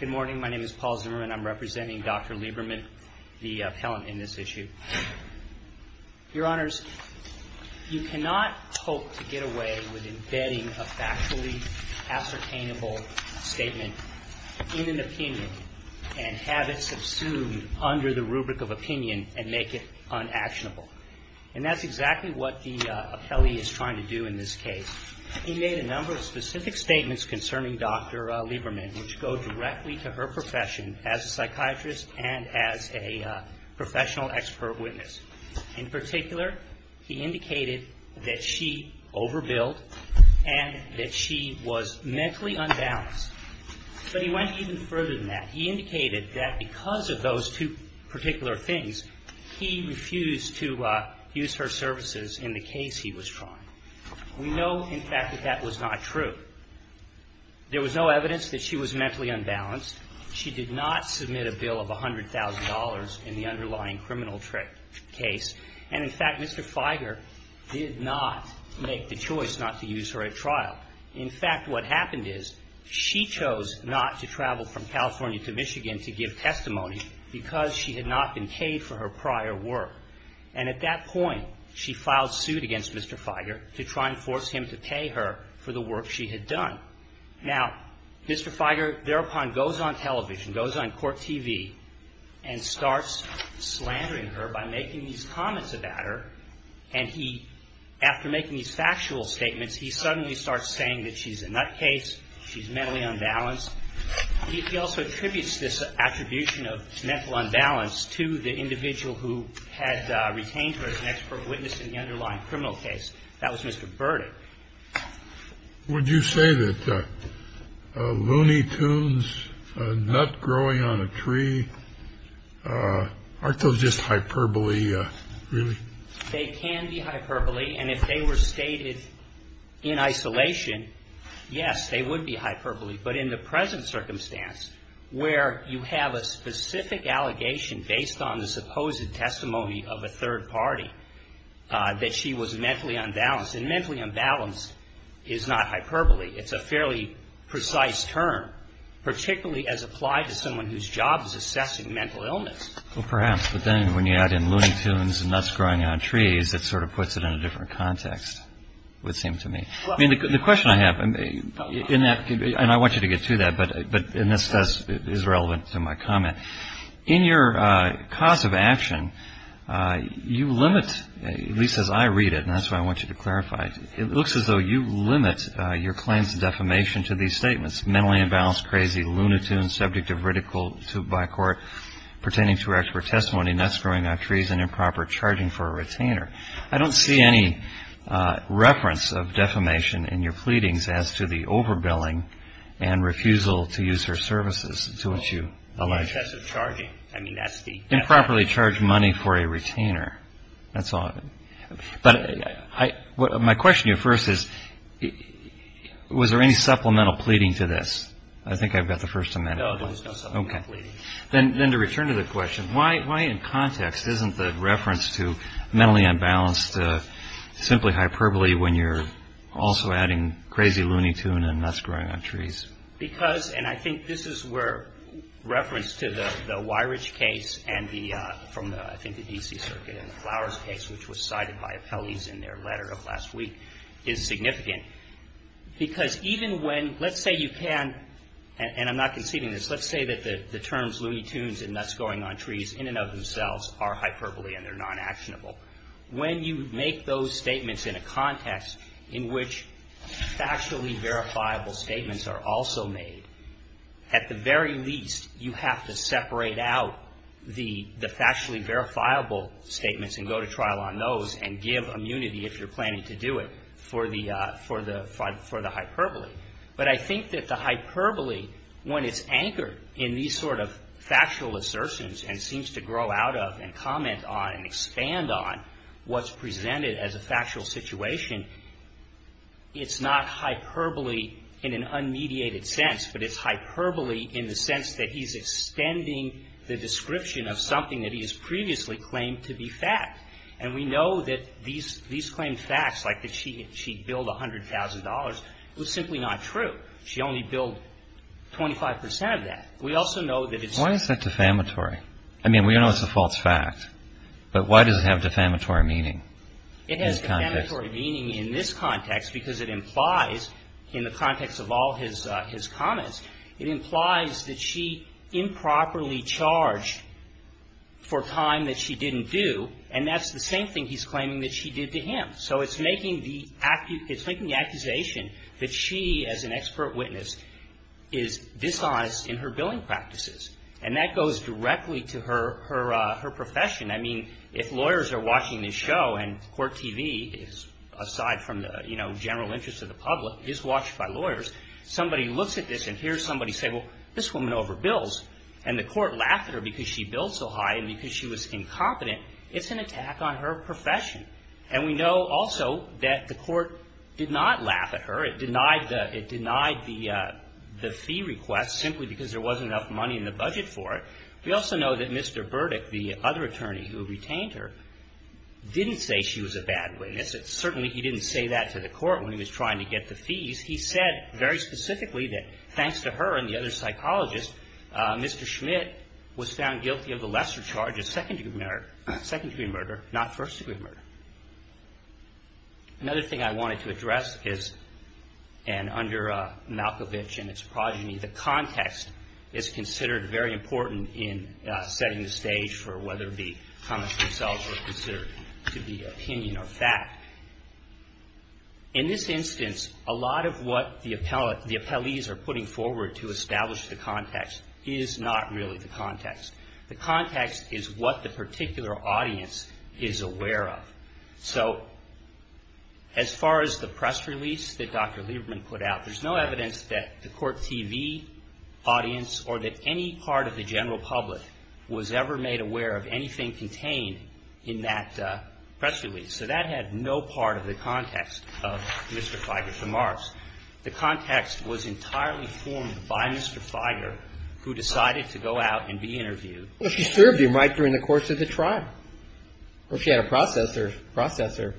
Good morning. My name is Paul Zimmerman. I'm representing Dr. Lieberman, the appellant in this issue. Your Honors, you cannot hope to get away with embedding a factually ascertainable statement in an opinion and have it subsumed under the rubric of opinion and make it unactionable. And that's exactly what the appellee is trying to do in this case. He made a number of specific statements concerning Dr. Lieberman which go directly to her profession as a psychiatrist and as a professional expert witness. In particular, he indicated that she overbilled and that she was mentally unbalanced. But he went even further than that. He indicated that because of those two particular things, he refused to use her services in the case he was trying. We know, in fact, that that was not true. There was no evidence that she was mentally unbalanced. She did not submit a bill of $100,000 in the underlying criminal case. And, in fact, Mr. Fieger did not make the choice not to use her at trial. In fact, what happened is she chose not to travel from California to Michigan to give testimony because she had not been paid for her prior work. And at that point, she filed suit against Mr. Fieger to try and force him to pay her for the work she had done. Now, Mr. Fieger thereupon goes on television, goes on court TV, and starts slandering her by making these comments about her. And he, after making these factual statements, he suddenly starts saying that she's a nutcase, she's mentally unbalanced. He also attributes this attribution of mental unbalance to the individual who had retained her as an expert witness in the underlying criminal case. That was Mr. Burdick. Scalia. Would you say that Looney Tunes, a nut growing on a tree, aren't those just hyperbole, really? Waxman. They can be hyperbole. And if they were stated in isolation, yes, they would be hyperbole. But in the present circumstance, where you have a specific allegation based on the supposed testimony of a third party, that she was mentally unbalanced. And mentally unbalanced is not hyperbole. It's a fairly precise term, particularly as applied to someone whose job is assessing mental illness. Kennedy. Well, perhaps. But then when you add in Looney Tunes and nuts growing on trees, it sort of puts it in a different context, it would seem to me. I mean, the question I have, and I want you to get to that, but this is relevant to my comment. In your cause of action, you limit, at least as I read it, and that's what I want you to clarify, it looks as though you limit your claims of defamation to these statements, mentally unbalanced, crazy, Looney Tunes, subject of ridicule by court, pertaining to her expert testimony, nuts growing on trees, and improper charging for a retainer. I don't see any reference of defamation in your pleadings as to the overbilling and refusal to use her services to which you allege. Improperly charged money for a retainer. That's all. But my question to you first is, was there any supplemental pleading to this? I think I've got the first amendment. No, there was no supplemental pleading. Then to return to the question, why in context isn't the reference to mentally unbalanced simply hyperbole when you're also adding crazy Looney Tune and nuts growing on trees? Because, and I think this is where reference to the Weirich case and the, from I think the D.C. Circuit and the Flowers case, which was cited by appellees in their letter of last week, is significant. Because even when, let's say you can, and I'm not conceiving this, let's say that the terms Looney Tunes and nuts growing on trees in and of themselves are hyperbole and they're non-actionable. When you make those statements in a context in which factually verifiable statements are also made, at the very least you have to separate out the factually verifiable statements and go to trial on those and give immunity if you're planning to do it for the hyperbole. But I think that the hyperbole, when it's anchored in these sort of factual assertions and seems to grow out of and comment on and expand on what's presented as a factual situation, it's not hyperbole in an unmediated sense, but it's hyperbole in the sense that he's extending the description of something that he has previously claimed to be fact. And we know that these claimed facts, like that she billed $100,000, was simply not true. She only billed 25 percent of that. We also know that it's not true. Why is that defamatory? I mean, we know it's a false fact, but why does it have defamatory meaning in this context? It has defamatory meaning in this context because it implies, in the context of all his comments, it implies that she improperly charged for a time that she didn't do, and that's the same thing he's claiming that she did to him. So it's making the accusation that she, as an expert witness, is dishonest in her billing practices. And that goes directly to her profession. I mean, if lawyers are watching this show, and Court TV, aside from the general interest of the public, is watched by lawyers, somebody looks at this and hears somebody say, well, this woman overbills. And the Court laughed at her because she billed so high and because she was incompetent. It's an attack on her profession. And we know also that the Court did not laugh at her. It denied the fee request simply because there wasn't enough money in the budget for it. We also know that Mr. Burdick, the other attorney who retained her, didn't say she was a bad witness. Certainly, he didn't say that to the Court when he was trying to get the fees. He said very specifically that thanks to her and the other psychologists, Mr. Schmidt was found guilty of the lesser charge of second-degree murder, not first-degree murder. Another thing I wanted to address is, and under Malkovich and its progeny, the context is considered very important in setting the stage for whether the comments themselves are considered to be opinion or fact. In this instance, a lot of what the appellees are putting forward to establish the context is not really the context. The context is what the particular audience is aware of. So as far as the press release that Dr. Lieberman put out, there's no evidence that the Court TV audience or that any part of the general public was ever made aware of anything contained in that press release. So that had no part of the context of Mr. Feiger's remarks. The context was entirely formed by Mr. Feiger, who decided to go out and be interviewed. Well, she served him right during the course of the trial, or she had a processor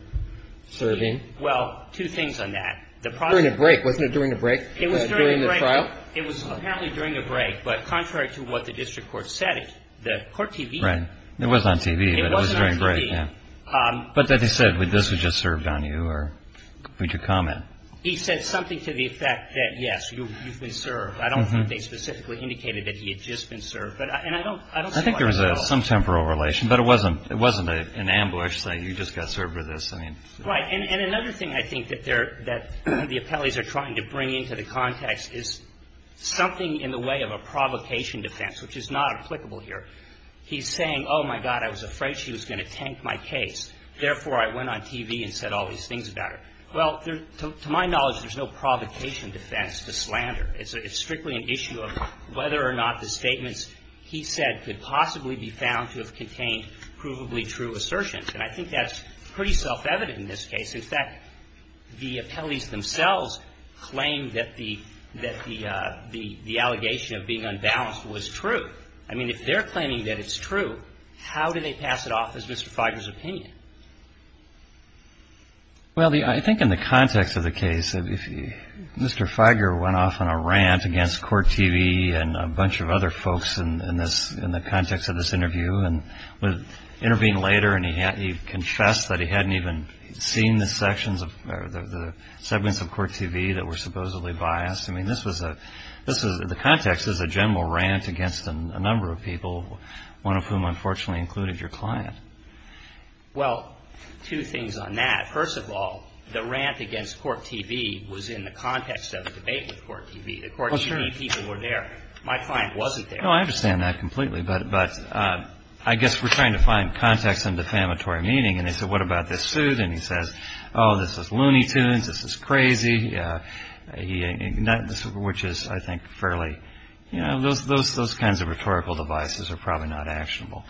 serving. Well, two things on that. During a break. Wasn't it during a break during the trial? It was apparently during a break, but contrary to what the district court said, the Court TV. Right. It was on TV, but it was during a break. It was on TV. But that they said, well, this was just served on you, or would you comment? He said something to the effect that, yes, you've been served. I don't think they specifically indicated that he had just been served. And I don't see why that's so. I think there was some temporal relation, but it wasn't an ambush saying you just got served with this. Right. And another thing I think that the appellees are trying to bring into the context is something in the way of a provocation defense, which is not applicable here. He's saying, oh, my God, I was afraid she was going to tank my case. Therefore, I went on TV and said all these things about her. Well, to my knowledge, there's no provocation defense to slander. It's strictly an issue of whether or not the statements he said could possibly be found to have contained provably true assertions. And I think that's pretty self-evident in this case. In fact, the appellees themselves claim that the allegation of being unbalanced was true. I mean, if they're claiming that it's true, how do they pass it off as Mr. Feiger's opinion? Well, I think in the context of the case, Mr. Feiger went off on a rant against Court TV and a bunch of other folks in the context of this interview. And intervened later and he confessed that he hadn't even seen the sections of the segments of Court TV that were supposedly biased. I mean, this was a the context is a general rant against a number of people, one of whom unfortunately included your client. Well, two things on that. First of all, the rant against Court TV was in the context of a debate with Court TV. The Court TV people were there. My client wasn't there. No, I understand that completely. But I guess we're trying to find context and defamatory meaning. And they said, what about this suit? And he says, oh, this is loony tunes. This is crazy. Which is, I think, fairly, you know, those kinds of rhetorical devices are probably not actionable.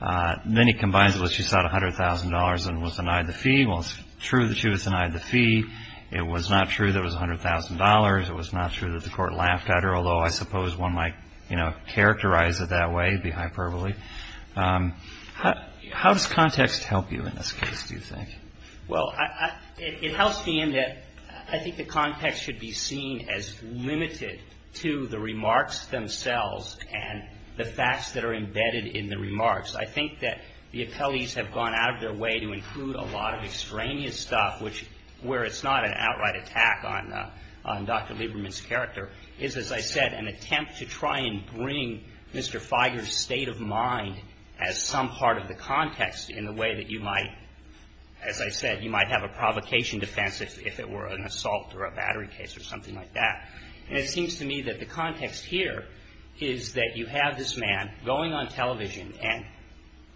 Then he combines it with she sought $100,000 and was denied the fee. Well, it's true that she was denied the fee. It was not true that it was $100,000. It was not true that the court laughed at her. Although I suppose one might, you know, characterize it that way, be hyperbole. How does context help you in this case, do you think? Well, it helps me in that I think the context should be seen as limited to the remarks themselves and the facts that are embedded in the remarks. I think that the appellees have gone out of their way to include a lot of extraneous stuff, which where it's not an outright attack on Dr. Lieberman's character is, as I said, an attempt to try and bring Mr. Figer's state of mind as some part of the context in the way that you might, as I said, you might have a provocation defense if it were an assault or a battery case or something like that. And it seems to me that the context here is that you have this man going on television and,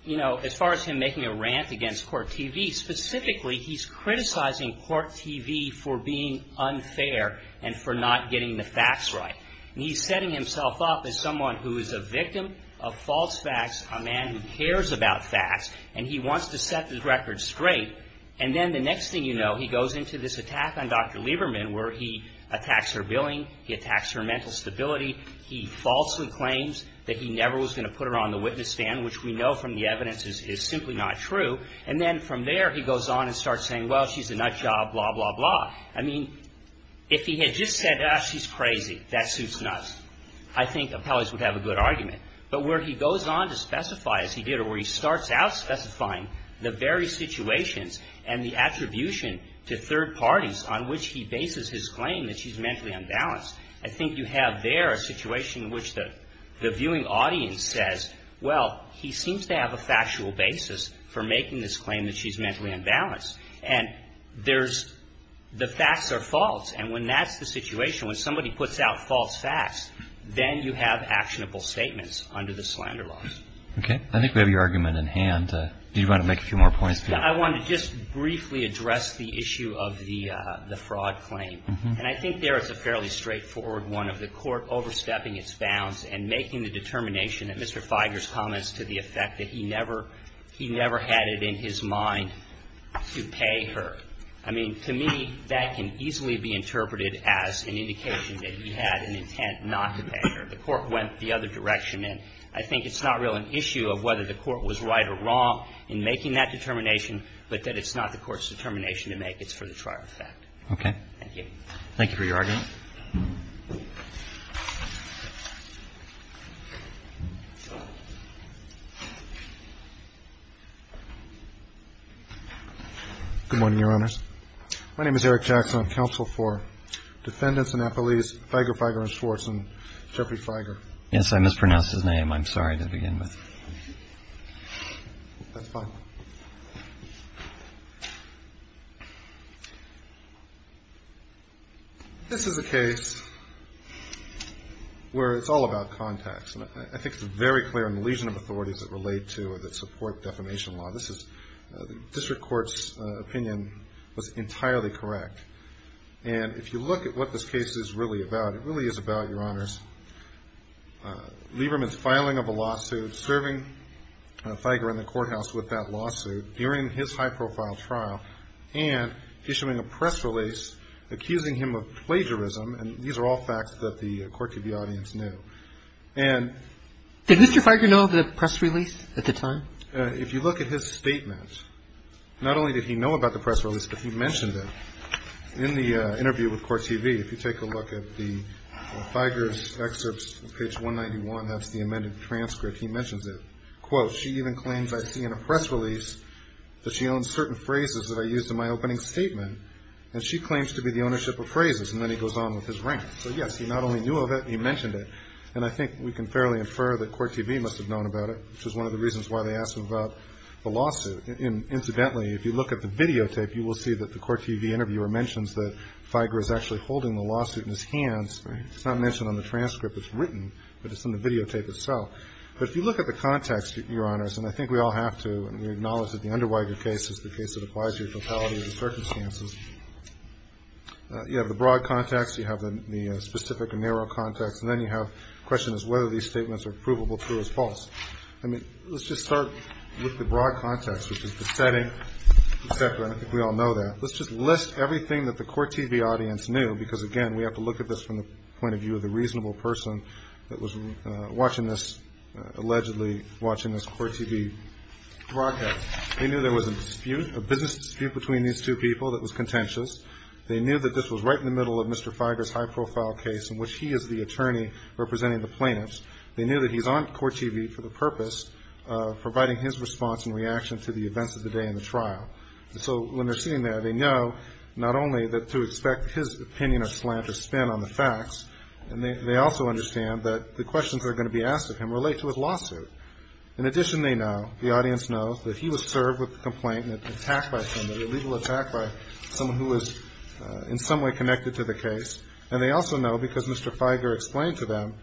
you know, as far as him making a rant against court TV, specifically he's criticizing court TV for being unfair and for not getting the facts right. And he's setting himself up as someone who is a victim of false facts, a man who cares about facts, and he wants to set the record straight. And then the next thing you know, he goes into this attack on Dr. Lieberman where he attacks her billing, he attacks her mental stability, he falsely claims that he never was going to put her on the witness stand, which we know from the evidence is simply not true. And then from there he goes on and starts saying, well, she's a nut job, blah, blah, blah. I mean, if he had just said, ah, she's crazy, that suits nuts, I think appellees would have a good argument. But where he goes on to specify, as he did, or where he starts out specifying the very situations and the attribution to third parties on which he bases his claim that she's mentally unbalanced, I think you have there a situation in which the viewing audience says, well, he seems to have a factual basis for making this claim that she's mentally unbalanced. And there's the facts are false. And when that's the situation, when somebody puts out false facts, then you have actionable statements under the slander laws. Okay. I think we have your argument in hand. Do you want to make a few more points? I want to just briefly address the issue of the fraud claim. And I think there is a fairly straightforward one of the court overstepping its bounds and making the determination that Mr. Feiger's comments to the effect that he never had it in his mind to pay her. I mean, to me, that can easily be interpreted as an indication that he had an intent not to pay her. The court went the other direction. And I think it's not really an issue of whether the court was right or wrong in making that determination, but that it's not the court's determination to make. It's for the trier effect. Okay. Thank you. Thank you for your argument. Good morning, Your Honors. My name is Eric Jackson. I'm counsel for Defendants and Appellees Feiger, Feiger and Schwartz and Jeffrey Feiger. Yes, I mispronounced his name. I'm sorry to begin with. That's fine. This is a case where it's all about contacts. And I think it's very clear in the legion of authorities that relate to or that support defamation law. This is the district court's opinion was entirely correct. And if you look at what this case is really about, it really is about, Your Honors, Lieberman's filing of a lawsuit, serving Feiger in the courthouse with that lawsuit during his high-profile trial, and issuing a press release accusing him of plagiarism. And these are all facts that the Court TV audience knew. And ---- Did Mr. Feiger know of the press release at the time? If you look at his statement, not only did he know about the press release, but he mentioned it in the interview with Court TV. If you take a look at the Feiger's excerpts, page 191, that's the amended transcript, he mentions it. Quote, she even claims I see in a press release that she owns certain phrases that I used in my opening statement, and she claims to be the ownership of phrases. And then he goes on with his rant. So, yes, he not only knew of it, he mentioned it. And I think we can fairly infer that Court TV must have known about it, which is one of the reasons why they asked him about the lawsuit. Incidentally, if you look at the videotape, you will see that the Court TV interviewer mentions that Feiger is actually holding the lawsuit in his hands. It's not mentioned on the transcript. It's written, but it's in the videotape itself. But if you look at the context, Your Honors, and I think we all have to, and we acknowledge that the under Feiger case is the case that applies to the fatality of the circumstances, you have the broad context, you have the specific and narrow context, and then you have the question as to whether these statements are provable, true, or false. I mean, let's just start with the broad context, which is the setting, et cetera, and I think we all know that. Let's just list everything that the Court TV audience knew, because, again, we have to look at this from the point of view of the reasonable person that was watching this, allegedly watching this Court TV broadcast. They knew there was a dispute, a business dispute between these two people that was contentious. They knew that this was right in the middle of Mr. Feiger's high-profile case in which he is the attorney representing the plaintiffs. They knew that he's on Court TV for the purpose of providing his response and reaction to the events of the day in the trial. So when they're sitting there, they know not only to expect his opinion or slant or spin on the facts, and they also understand that the questions that are going to be asked of him relate to his lawsuit. In addition, they know, the audience knows, that he was served with a complaint and attacked by somebody, a legal attack by someone who was in some way connected to the case. And they also know, because Mr. Feiger explained to them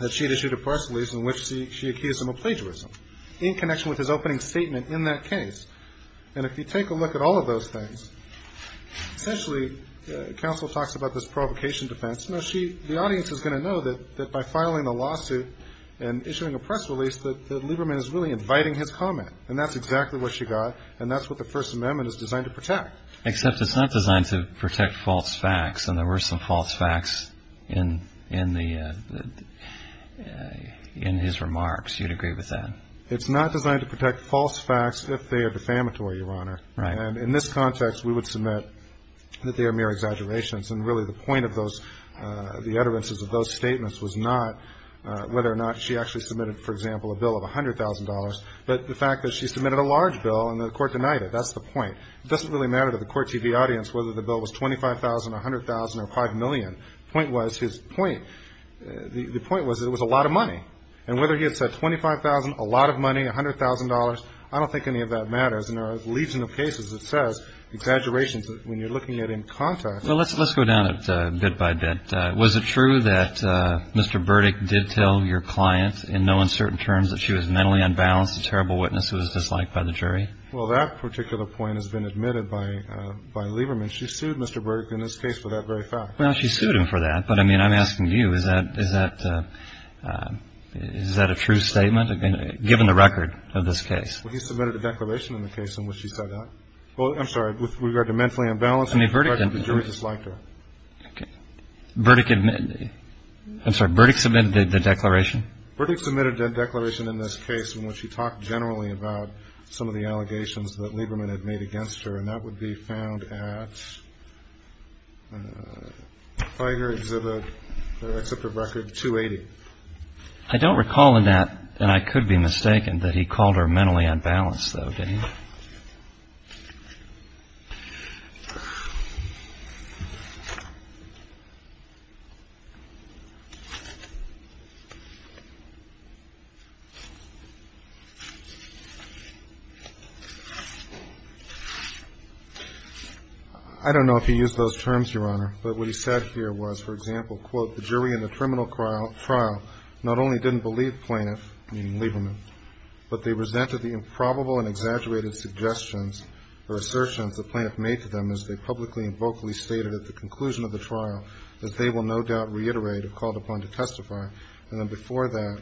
that she had issued a parcel lease in which she accused him of plagiarism in connection with his opening statement in that case. And if you take a look at all of those things, essentially, counsel talks about this provocation defense. No, she, the audience is going to know that by filing a lawsuit and issuing a press release, that Lieberman is really inviting his comment. And that's exactly what she got, and that's what the First Amendment is designed to protect. Except it's not designed to protect false facts, and there were some false facts in the, in his remarks. Do you agree with that? It's not designed to protect false facts if they are defamatory, Your Honor. Right. And in this context, we would submit that they are mere exaggerations. And really the point of those, the utterances of those statements was not whether or not she actually submitted, for example, a bill of $100,000, but the fact that she submitted a large bill and the court denied it, that's the point. It doesn't really matter to the court TV audience whether the bill was $25,000, $100,000, or $5 million. Point was, his point, the point was it was a lot of money. And whether he had said $25,000, a lot of money, $100,000, I don't think any of that matters. And there are a legion of cases that says exaggerations when you're looking at in context. Well, let's go down it bit by bit. Was it true that Mr. Burdick did tell your client in no uncertain terms that she was mentally unbalanced, a terrible witness who was disliked by the jury? Well, that particular point has been admitted by Lieberman. She sued Mr. Burdick in this case for that very fact. Well, she sued him for that. But, I mean, I'm asking you, is that a true statement, given the record of this case? Well, he submitted a declaration in the case in which he said that. Well, I'm sorry, with regard to mentally unbalanced. I mean, Burdick. The jury disliked her. Okay. Burdick, I'm sorry, Burdick submitted the declaration? Burdick submitted a declaration in this case in which he talked generally about some of the allegations that Lieberman had made against her. And that would be found at FIDER Exhibit, Exhibit Record 280. I don't recall in that, and I could be mistaken, that he called her mentally unbalanced, though, did he? I don't know if he used those terms, Your Honor. But what he said here was, for example, quote, the jury in the criminal trial not only didn't believe plaintiff, meaning Lieberman, but they resented the improbable and exaggerated suggestions or assertions the plaintiff made to them as they publicly and vocally stated at the conclusion of the trial that they will no doubt reiterate or called upon to testify. And then before that,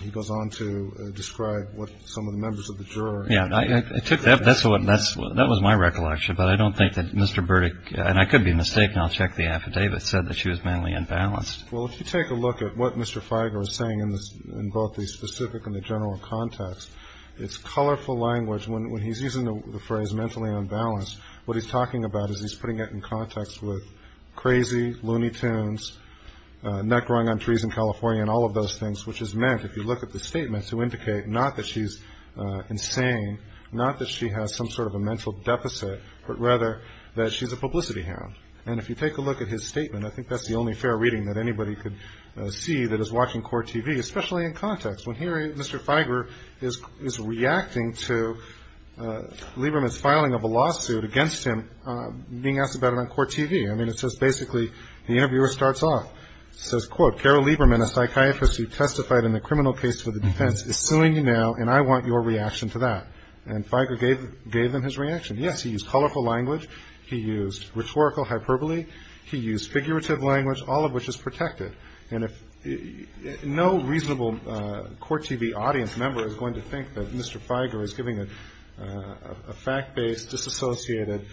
he goes on to describe what some of the members of the jury. Yes, I took that. That was my recollection. But I don't think that Mr. Burdick, and I could be mistaken, I'll check the affidavit, said that she was mentally unbalanced. Well, if you take a look at what Mr. Figer is saying in both the specific and the general context, it's colorful language. When he's using the phrase mentally unbalanced, what he's talking about is he's putting it in context with crazy, loony tunes, nut growing on trees in California and all of those things, which is meant, if you look at the statements, to indicate not that she's insane, not that she has some sort of a mental deficit, but rather that she's a publicity hound. And if you take a look at his statement, I think that's the only fair reading that anybody could see that is watching core TV, especially in context when here Mr. Figer is reacting to Lieberman's filing of a lawsuit against him being asked about it on core TV. I mean, it says basically the interviewer starts off, says, quote, Carol Lieberman, a psychiatrist who testified in a criminal case for the defense, is suing you now, and I want your reaction to that. And Figer gave them his reaction. Yes, he used colorful language. He used rhetorical hyperbole. He used figurative language, all of which is protected. And no reasonable core TV audience member is going to think that Mr. Figer is giving a fact-based, disassociated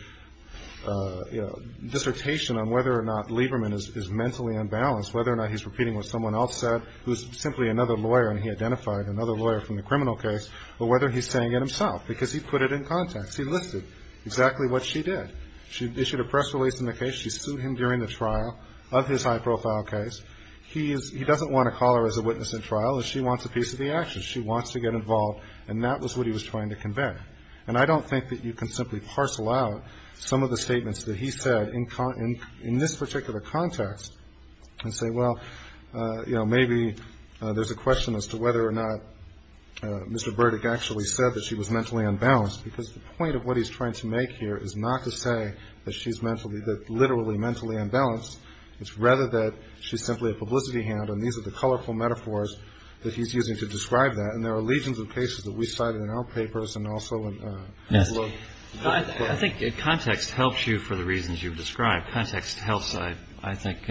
dissertation on whether or not Lieberman is mentally unbalanced, whether or not he's repeating what someone else said who is simply another lawyer, and he identified another lawyer from the criminal case, or whether he's saying it himself, because he put it in context. He listed exactly what she did. She issued a press release in the case. She sued him during the trial of his high-profile case. He doesn't want to call her as a witness in trial, and she wants a piece of the action. She wants to get involved, and that was what he was trying to convey. And I don't think that you can simply parcel out some of the statements that he said in this particular context and say, well, you know, maybe there's a question as to whether or not Mr. Burdick actually said that she was mentally unbalanced, because the point of what he's trying to make here is not to say that she's literally mentally unbalanced. It's rather that she's simply a publicity hound, and these are the colorful metaphors that he's using to describe that. And there are legions of cases that we cited in our papers and also in the book. I think context helps you for the reasons you've described. Context helps, I think,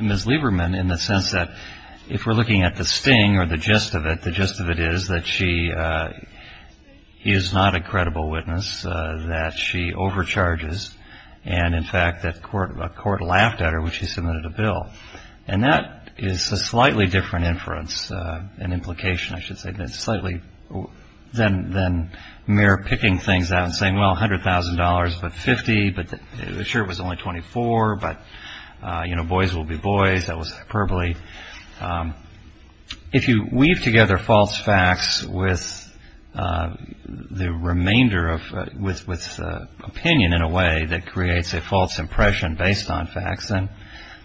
Ms. Lieberman in the sense that if we're looking at the sting or the gist of it, the gist of it is that she is not a credible witness, that she overcharges, and, in fact, that a court laughed at her when she submitted a bill. And that is a slightly different inference and implication, I should say, than mere picking things out and saying, well, $100,000, but $50,000, but sure it was only $24,000, but, you know, boys will be boys, that was hyperbole. If you weave together false facts with the remainder of opinion in a way that creates a false impression based on facts, then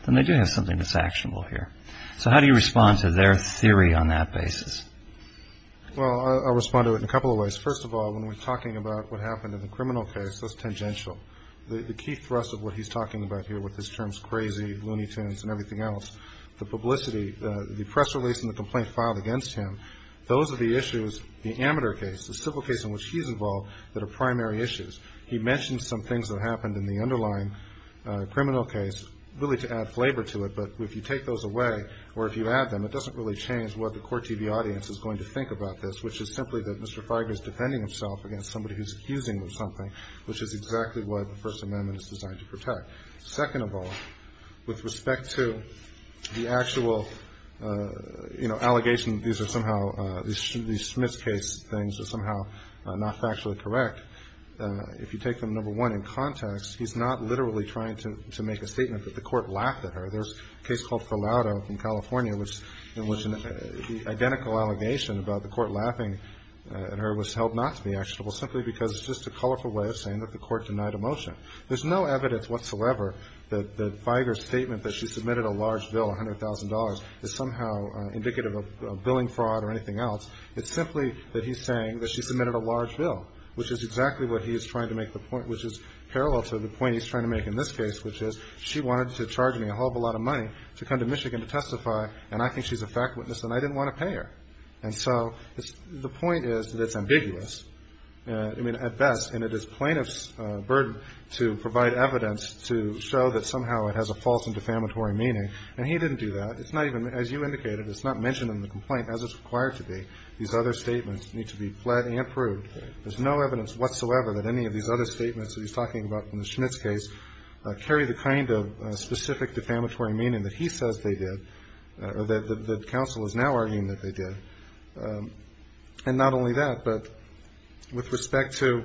they do have something that's actionable here. So how do you respond to their theory on that basis? Well, I'll respond to it in a couple of ways. First of all, when we're talking about what happened in the criminal case, that's tangential. The key thrust of what he's talking about here with his terms crazy, Looney Tunes, and everything else, the publicity, the press release and the complaint filed against him, those are the issues, the amateur case, the civil case in which he's involved, that are primary issues. He mentions some things that happened in the underlying criminal case, really to add flavor to it, but if you take those away or if you add them, it doesn't really change what the court TV audience is going to think about this, which is simply that Mr. Feigner is defending himself against somebody who's accusing him of something, which is exactly what the First Amendment is designed to protect. Second of all, with respect to the actual, you know, allegation, these are somehow, these Smith's case things are somehow not factually correct. If you take them, number one, in context, he's not literally trying to make a statement that the court laughed at her. There's a case called Falado in California, in which the identical allegation about the court laughing at her was held not to be actionable, simply because it's just a colorful way of saying that the court denied a motion. There's no evidence whatsoever that Feigner's statement that she submitted a large bill, $100,000, is somehow indicative of billing fraud or anything else. It's simply that he's saying that she submitted a large bill, which is exactly what he is trying to make the point, which is parallel to the point he's trying to make in this case, which is she wanted to charge me a whole lot of money to come to Michigan to testify, and I think she's a fact witness, and I didn't want to pay her. And so the point is that it's ambiguous. I mean, at best, and it is plaintiff's burden to provide evidence to show that somehow it has a false and defamatory meaning, and he didn't do that. It's not even, as you indicated, it's not mentioned in the complaint as it's required to be. These other statements need to be fled and proved. There's no evidence whatsoever that any of these other statements that he's talking about in the Schmitz case carry the kind of specific defamatory meaning that he says they did or that the counsel is now arguing that they did. And not only that, but with respect to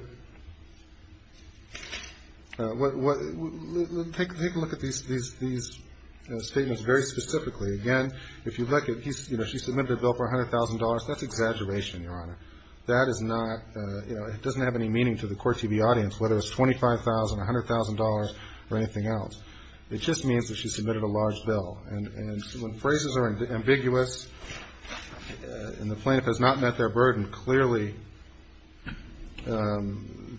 what – take a look at these statements very specifically. Again, if you look at, you know, she submitted a bill for $100,000. That's exaggeration, Your Honor. That is not – you know, it doesn't have any meaning to the Court TV audience, whether it's $25,000, $100,000, or anything else. It just means that she submitted a large bill. And when phrases are ambiguous and the plaintiff has not met their burden, clearly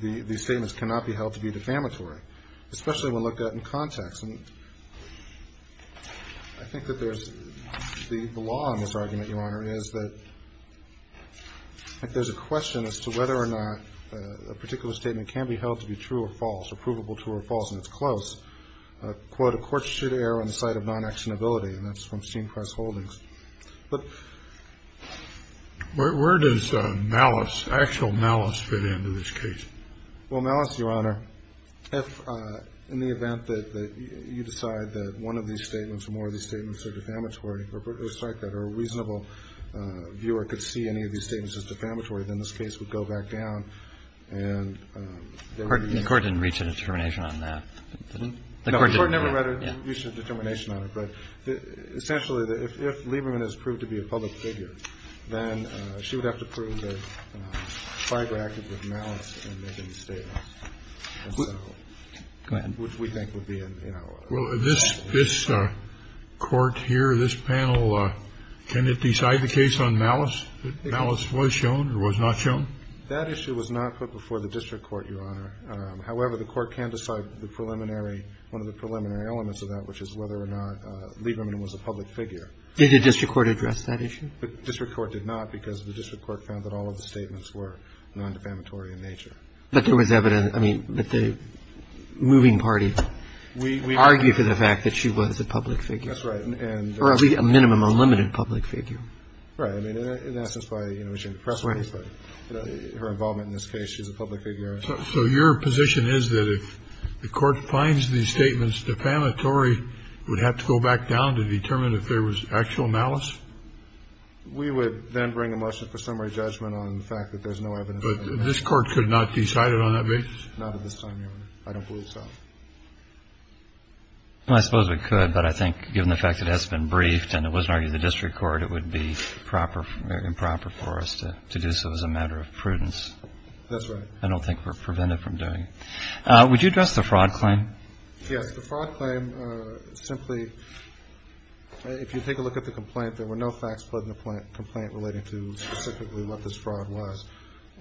these statements cannot be held to be defamatory, especially when looked at in context. And I think that there's – the law on this argument, Your Honor, is that there's a question as to whether or not a particular statement can be held to be true or false or provable true or false, and it's close. Quote, a court should err on the side of non-actionability. And that's from Steen Press Holdings. But where does malice, actual malice, fit into this case? Well, malice, Your Honor, if in the event that you decide that one of these statements or more of these statements are defamatory, or it's like that, or a reasonable viewer could see any of these statements as defamatory, then this case would go back down and they would be used. The Court didn't reach a determination on that. No, the Court never reached a determination on it. But essentially, if Lieberman has proved to be a public figure, then she would have to prove that Fiber acted with malice in making the statements. Go ahead. Which we think would be a, you know. Well, this Court here, this panel, can it decide the case on malice? Malice was shown or was not shown? That issue was not put before the district court, Your Honor. However, the Court can decide the preliminary – one of the preliminary elements of that, which is whether or not Lieberman was a public figure. Did the district court address that issue? The district court did not because the district court found that all of the statements were non-defamatory in nature. But there was evidence. I mean, but the moving parties argue for the fact that she was a public figure. That's right. Or at least a minimum unlimited public figure. Right. I mean, in essence, by, you know, reaching the press release, but her involvement in this case, she's a public figure. So your position is that if the Court finds these statements defamatory, would have to go back down to determine if there was actual malice? We would then bring a motion for summary judgment on the fact that there's no evidence of malice. But this Court could not decide it on that basis? Not at this time, Your Honor. I don't believe so. Well, I suppose we could, but I think given the fact that it has been briefed and it wasn't argued to the district court, it would be proper or improper for us to do so as a matter of prudence. That's right. I don't think we're prevented from doing it. Would you address the fraud claim? Yes. The fraud claim simply, if you take a look at the complaint, there were no facts put in the complaint relating to specifically what this fraud was.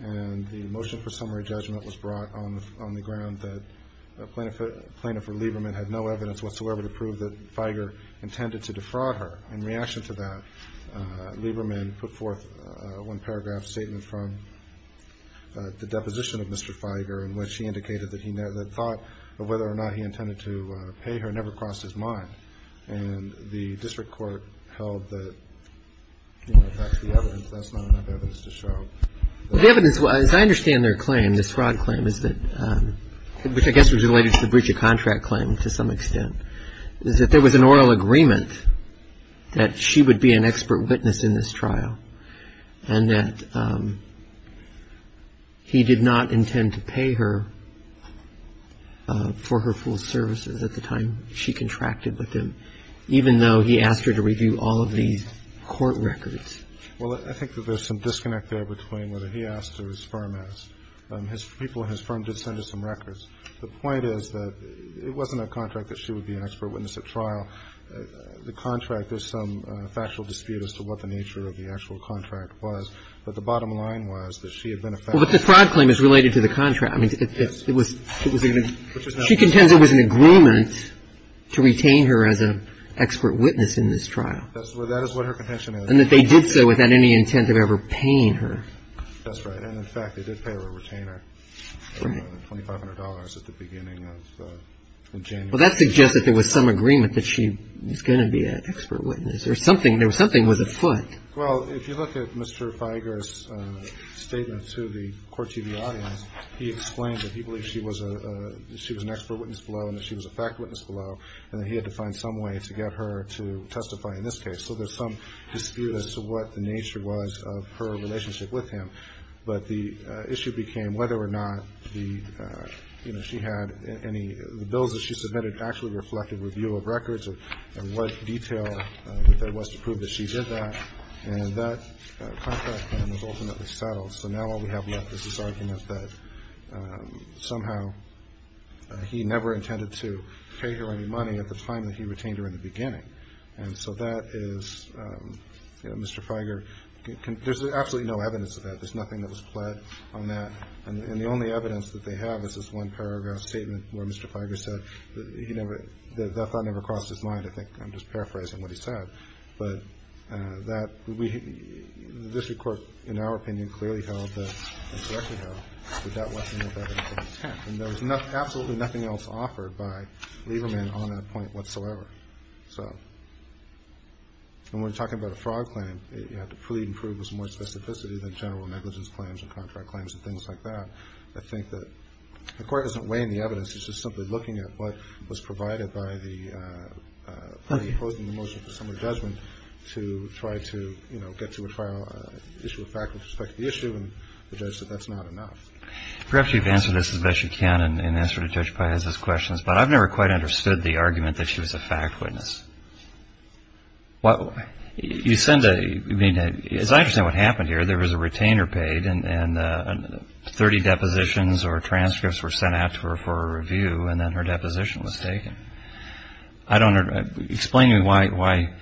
And the motion for summary judgment was brought on the ground that Plaintiff Lieberman had no evidence whatsoever to prove that Figer intended to defraud her. In reaction to that, Lieberman put forth one paragraph statement from the deposition of Mr. Figer in which he indicated that the thought of whether or not he intended to pay her never crossed his mind. And the district court held that that's the evidence. That's not enough evidence to show. The evidence, as I understand their claim, this fraud claim, which I guess was related to the breach of contract claim to some extent, is that there was an oral agreement that she would be an expert witness in this trial and that he did not intend to pay her for her full services at the time she contracted with him, even though he asked her to review all of these court records. Well, I think that there's some disconnect there between whether he asked or his firm asked. People at his firm did send us some records. The point is that it wasn't a contract that she would be an expert witness at trial. The contract, there's some factual dispute as to what the nature of the actual contract was. But the bottom line was that she had been a factual witness. Well, but the fraud claim is related to the contract. I mean, it was an agreement. She contends it was an agreement to retain her as an expert witness in this trial. That is what her contention is. And that they did so without any intent of ever paying her. That's right. And, in fact, they did pay her a retainer of $2,500 at the beginning of January. Well, that suggests that there was some agreement that she was going to be an expert witness or something was afoot. Well, if you look at Mr. Fieger's statement to the Court TV audience, he explained that he believed she was an expert witness below and that she was a fact witness below, and that he had to find some way to get her to testify in this case. So there's some dispute as to what the nature was of her relationship with him. But the issue became whether or not the, you know, she had any bills that she submitted actually reflected review of records and what detail there was to prove that she did that. And that contract then was ultimately settled. So now all we have left is this argument that somehow he never intended to pay her any money at the time that he retained her in the beginning. And so that is, you know, Mr. Fieger, there's absolutely no evidence of that. There's nothing that was pled on that. And the only evidence that they have is this one paragraph statement where Mr. Fieger said that he never, that thought never crossed his mind. I think I'm just paraphrasing what he said. But that, we, the district court, in our opinion, clearly held that, and correctly held, that that wasn't an evidential intent. And there was absolutely nothing else offered by Lieberman on that point whatsoever. So when we're talking about a fraud claim, you have to plead and prove there's more specificity than general negligence claims and contract claims and things like that. I think that the Court doesn't weigh in the evidence. It's just simply looking at what was provided by the party opposing the motion for summary judgment to try to, you know, get to a trial, issue a fact with respect to the issue, and the judge said that's not enough. Perhaps you've answered this as best you can in answer to Judge Piazza's questions, but I've never quite understood the argument that she was a fact witness. You send a, I mean, as I understand what happened here, there was a retainer paid and 30 depositions or transcripts were sent out to her for a review, and then her deposition was taken. I don't, explain to me why.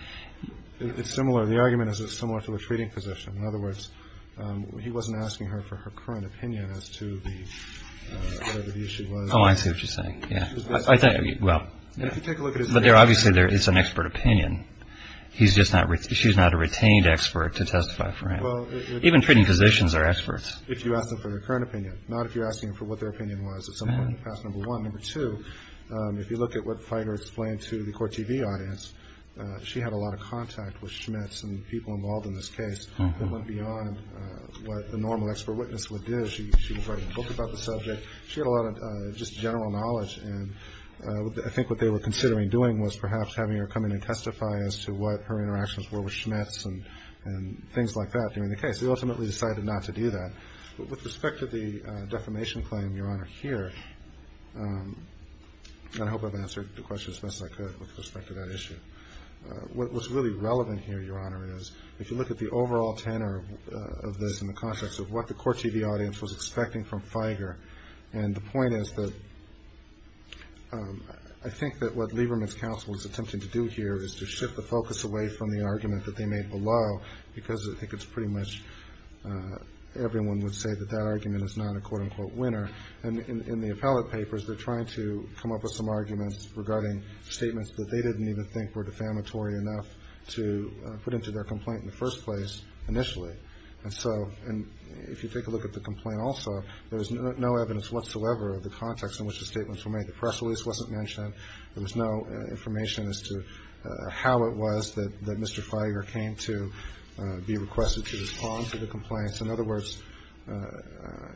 It's similar. The argument is it's similar to the treating position. In other words, he wasn't asking her for her current opinion as to the, whatever the issue was. Oh, I see what you're saying. Yeah. I think, well. But obviously there is an expert opinion. He's just not, she's not a retained expert to testify for him. Even treating positions are experts. If you ask them for their current opinion, not if you're asking them for what their opinion was at some point in the past, number one. Number two, if you look at what Fider explained to the court TV audience, she had a lot of contact with Schmitz and the people involved in this case that went beyond what the normal expert witness would do. She was writing a book about the subject. She had a lot of just general knowledge, and I think what they were considering doing was perhaps having her come in and testify as to what her interactions were with Schmitz and things like that during the case. They ultimately decided not to do that. But with respect to the defamation claim, Your Honor, here, I hope I've answered the question as best I could with respect to that issue. What's really relevant here, Your Honor, is if you look at the overall tenor of this in the context of what the court TV audience was expecting from Figer, and the point is that I think that what Lieberman's counsel is attempting to do here is to shift the focus away from the argument that they made below because I think it's pretty much everyone would say that that argument is not a quote-unquote winner. And in the appellate papers, they're trying to come up with some arguments regarding statements that they didn't even think were defamatory enough to put into their complaint in the first place initially. And so if you take a look at the complaint also, there's no evidence whatsoever of the context in which the statements were made. The press release wasn't mentioned. There was no information as to how it was that Mr. Figer came to be requested to respond to the complaints. In other words,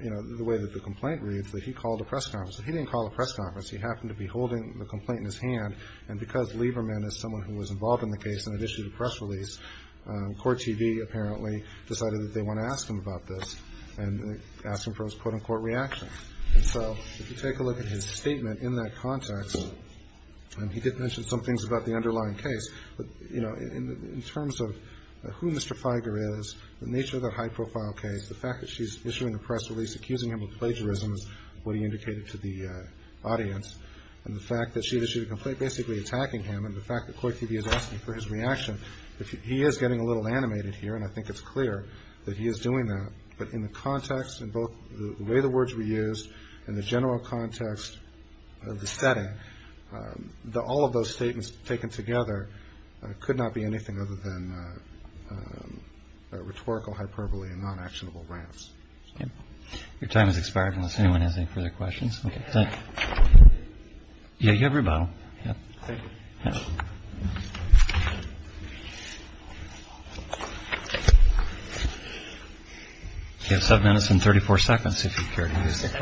you know, the way that the complaint reads that he called a press conference. He didn't call a press conference. He happened to be holding the complaint in his hand. And because Lieberman is someone who was involved in the case and had issued a press release, Court TV apparently decided that they want to ask him about this and ask him for his quote-unquote reaction. And so if you take a look at his statement in that context, he did mention some things about the underlying case. But, you know, in terms of who Mr. Figer is, the nature of that high-profile case, the fact that she's issuing a press release accusing him of plagiarism is what he indicated to the audience. And the fact that she had issued a complaint basically attacking him and the fact that Court TV is asking for his reaction, he is getting a little animated here, and I think it's clear that he is doing that. But in the context in both the way the words were used and the general context of the setting, all of those statements taken together could not be anything other than rhetorical hyperbole and non-actionable rants. Your time has expired unless anyone has any further questions. Yeah, you have your bottle. You have seven minutes and 34 seconds if you care to use it.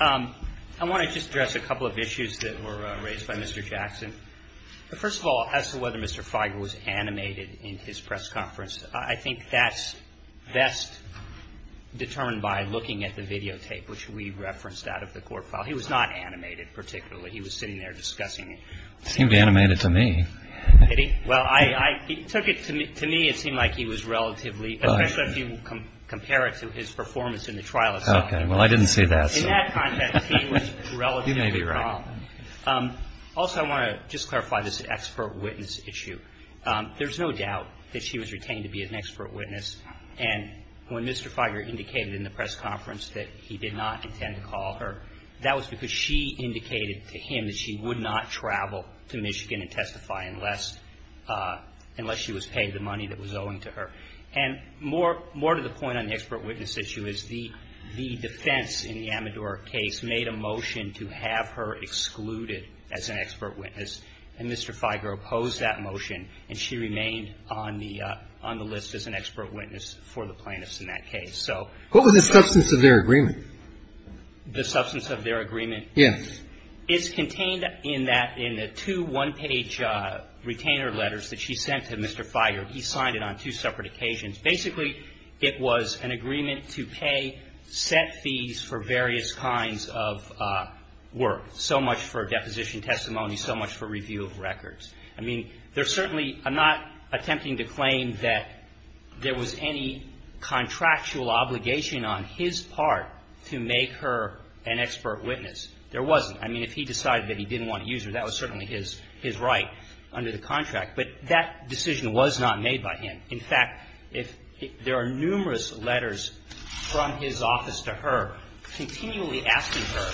I want to just address a couple of issues that were raised by Mr. Jackson. First of all, as to whether Mr. Figer was animated in his press conference, I think that's best determined by looking at the videotape, which we referenced out of the court file. He was not animated particularly. He was sitting there discussing it. He seemed animated to me. Did he? Well, he took it to me. To me, it seemed like he was relatively, especially if you compare it to his performance in the trial itself. Okay. Well, I didn't see that. In that context, he was relatively wrong. You may be right. Also, I want to just clarify this expert witness issue. There's no doubt that she was retained to be an expert witness. And when Mr. Figer indicated in the press conference that he did not intend to call her, that was because she indicated to him that she would not travel to Michigan and testify unless she was paid the money that was owing to her. And more to the point on the expert witness issue is the defense in the Amador case made a motion to have her excluded as an expert witness. And Mr. Figer opposed that motion. And she remained on the list as an expert witness for the plaintiffs in that case. What was the substance of their agreement? The substance of their agreement? Yes. It's contained in the two one-page retainer letters that she sent to Mr. Figer. He signed it on two separate occasions. Basically, it was an agreement to pay set fees for various kinds of work, so much for deposition testimony, so much for review of records. I mean, there's certainly not attempting to claim that there was any contractual obligation on his part to make her an expert witness. There wasn't. I mean, if he decided that he didn't want to use her, that was certainly his right under the contract. But that decision was not made by him. In fact, there are numerous letters from his office to her continually asking her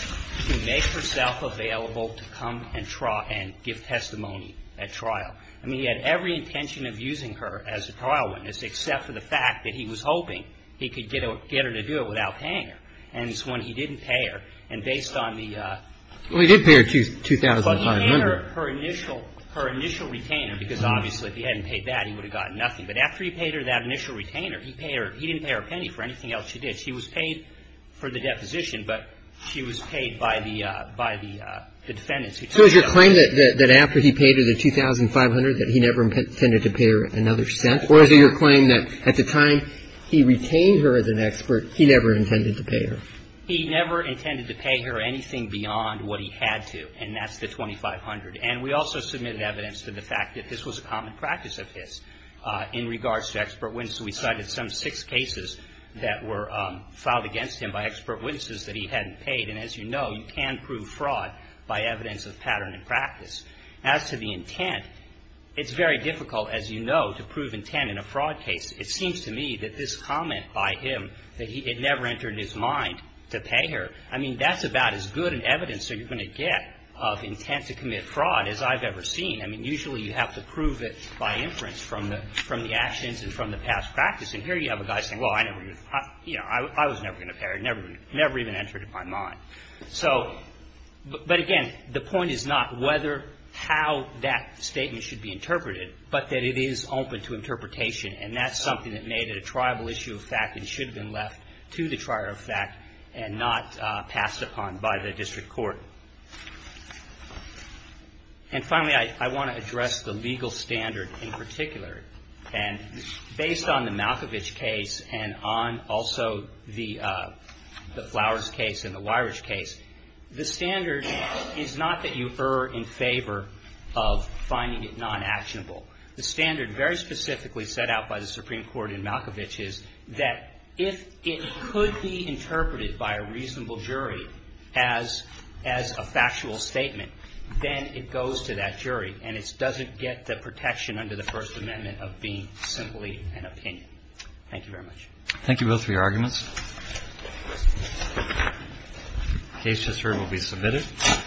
to make herself available to come and give testimony at trial. I mean, he had every intention of using her as a trial witness, except for the fact that he was hoping he could get her to do it without paying her. And it's when he didn't pay her, and based on the ---- Well, he did pay her $2,500. Well, he paid her her initial retainer, because obviously if he hadn't paid that, he would have gotten nothing. But after he paid her that initial retainer, he didn't pay her a penny for anything else she did. She was paid for the deposition, but she was paid by the defendants who took her. So is your claim that after he paid her the $2,500 that he never intended to pay her another cent? Or is it your claim that at the time he retained her as an expert, he never intended to pay her? He never intended to pay her anything beyond what he had to, and that's the $2,500. And we also submitted evidence to the fact that this was a common practice of his in regards to expert witnesses. We cited some six cases that were filed against him by expert witnesses that he hadn't paid. And as you know, you can prove fraud by evidence of pattern and practice. As to the intent, it's very difficult, as you know, to prove intent in a fraud case. It seems to me that this comment by him, that it never entered his mind to pay her, I mean, that's about as good an evidence that you're going to get of intent to commit fraud as I've ever seen. I mean, usually you have to prove it by inference from the actions and from the past practice, and here you have a guy saying, well, I never, you know, I was never going to pay her, never even entered it in my mind. So, but again, the point is not whether, how that statement should be interpreted, but that it is open to interpretation, and that's something that made it a tribal issue of fact and should have been left to the trier of fact and not passed upon by the district court. And finally, I want to address the legal standard in particular. And based on the Malkovich case and on also the Flowers case and the Weirich case, the standard is not that you err in favor of finding it non-actionable. The standard very specifically set out by the Supreme Court in Malkovich is that if it could be interpreted by a reasonable jury as a factual statement, then it goes to that jury and it doesn't get the protection under the First Amendment of being simply an opinion. Thank you very much. Thank you both for your arguments. The case just heard will be submitted.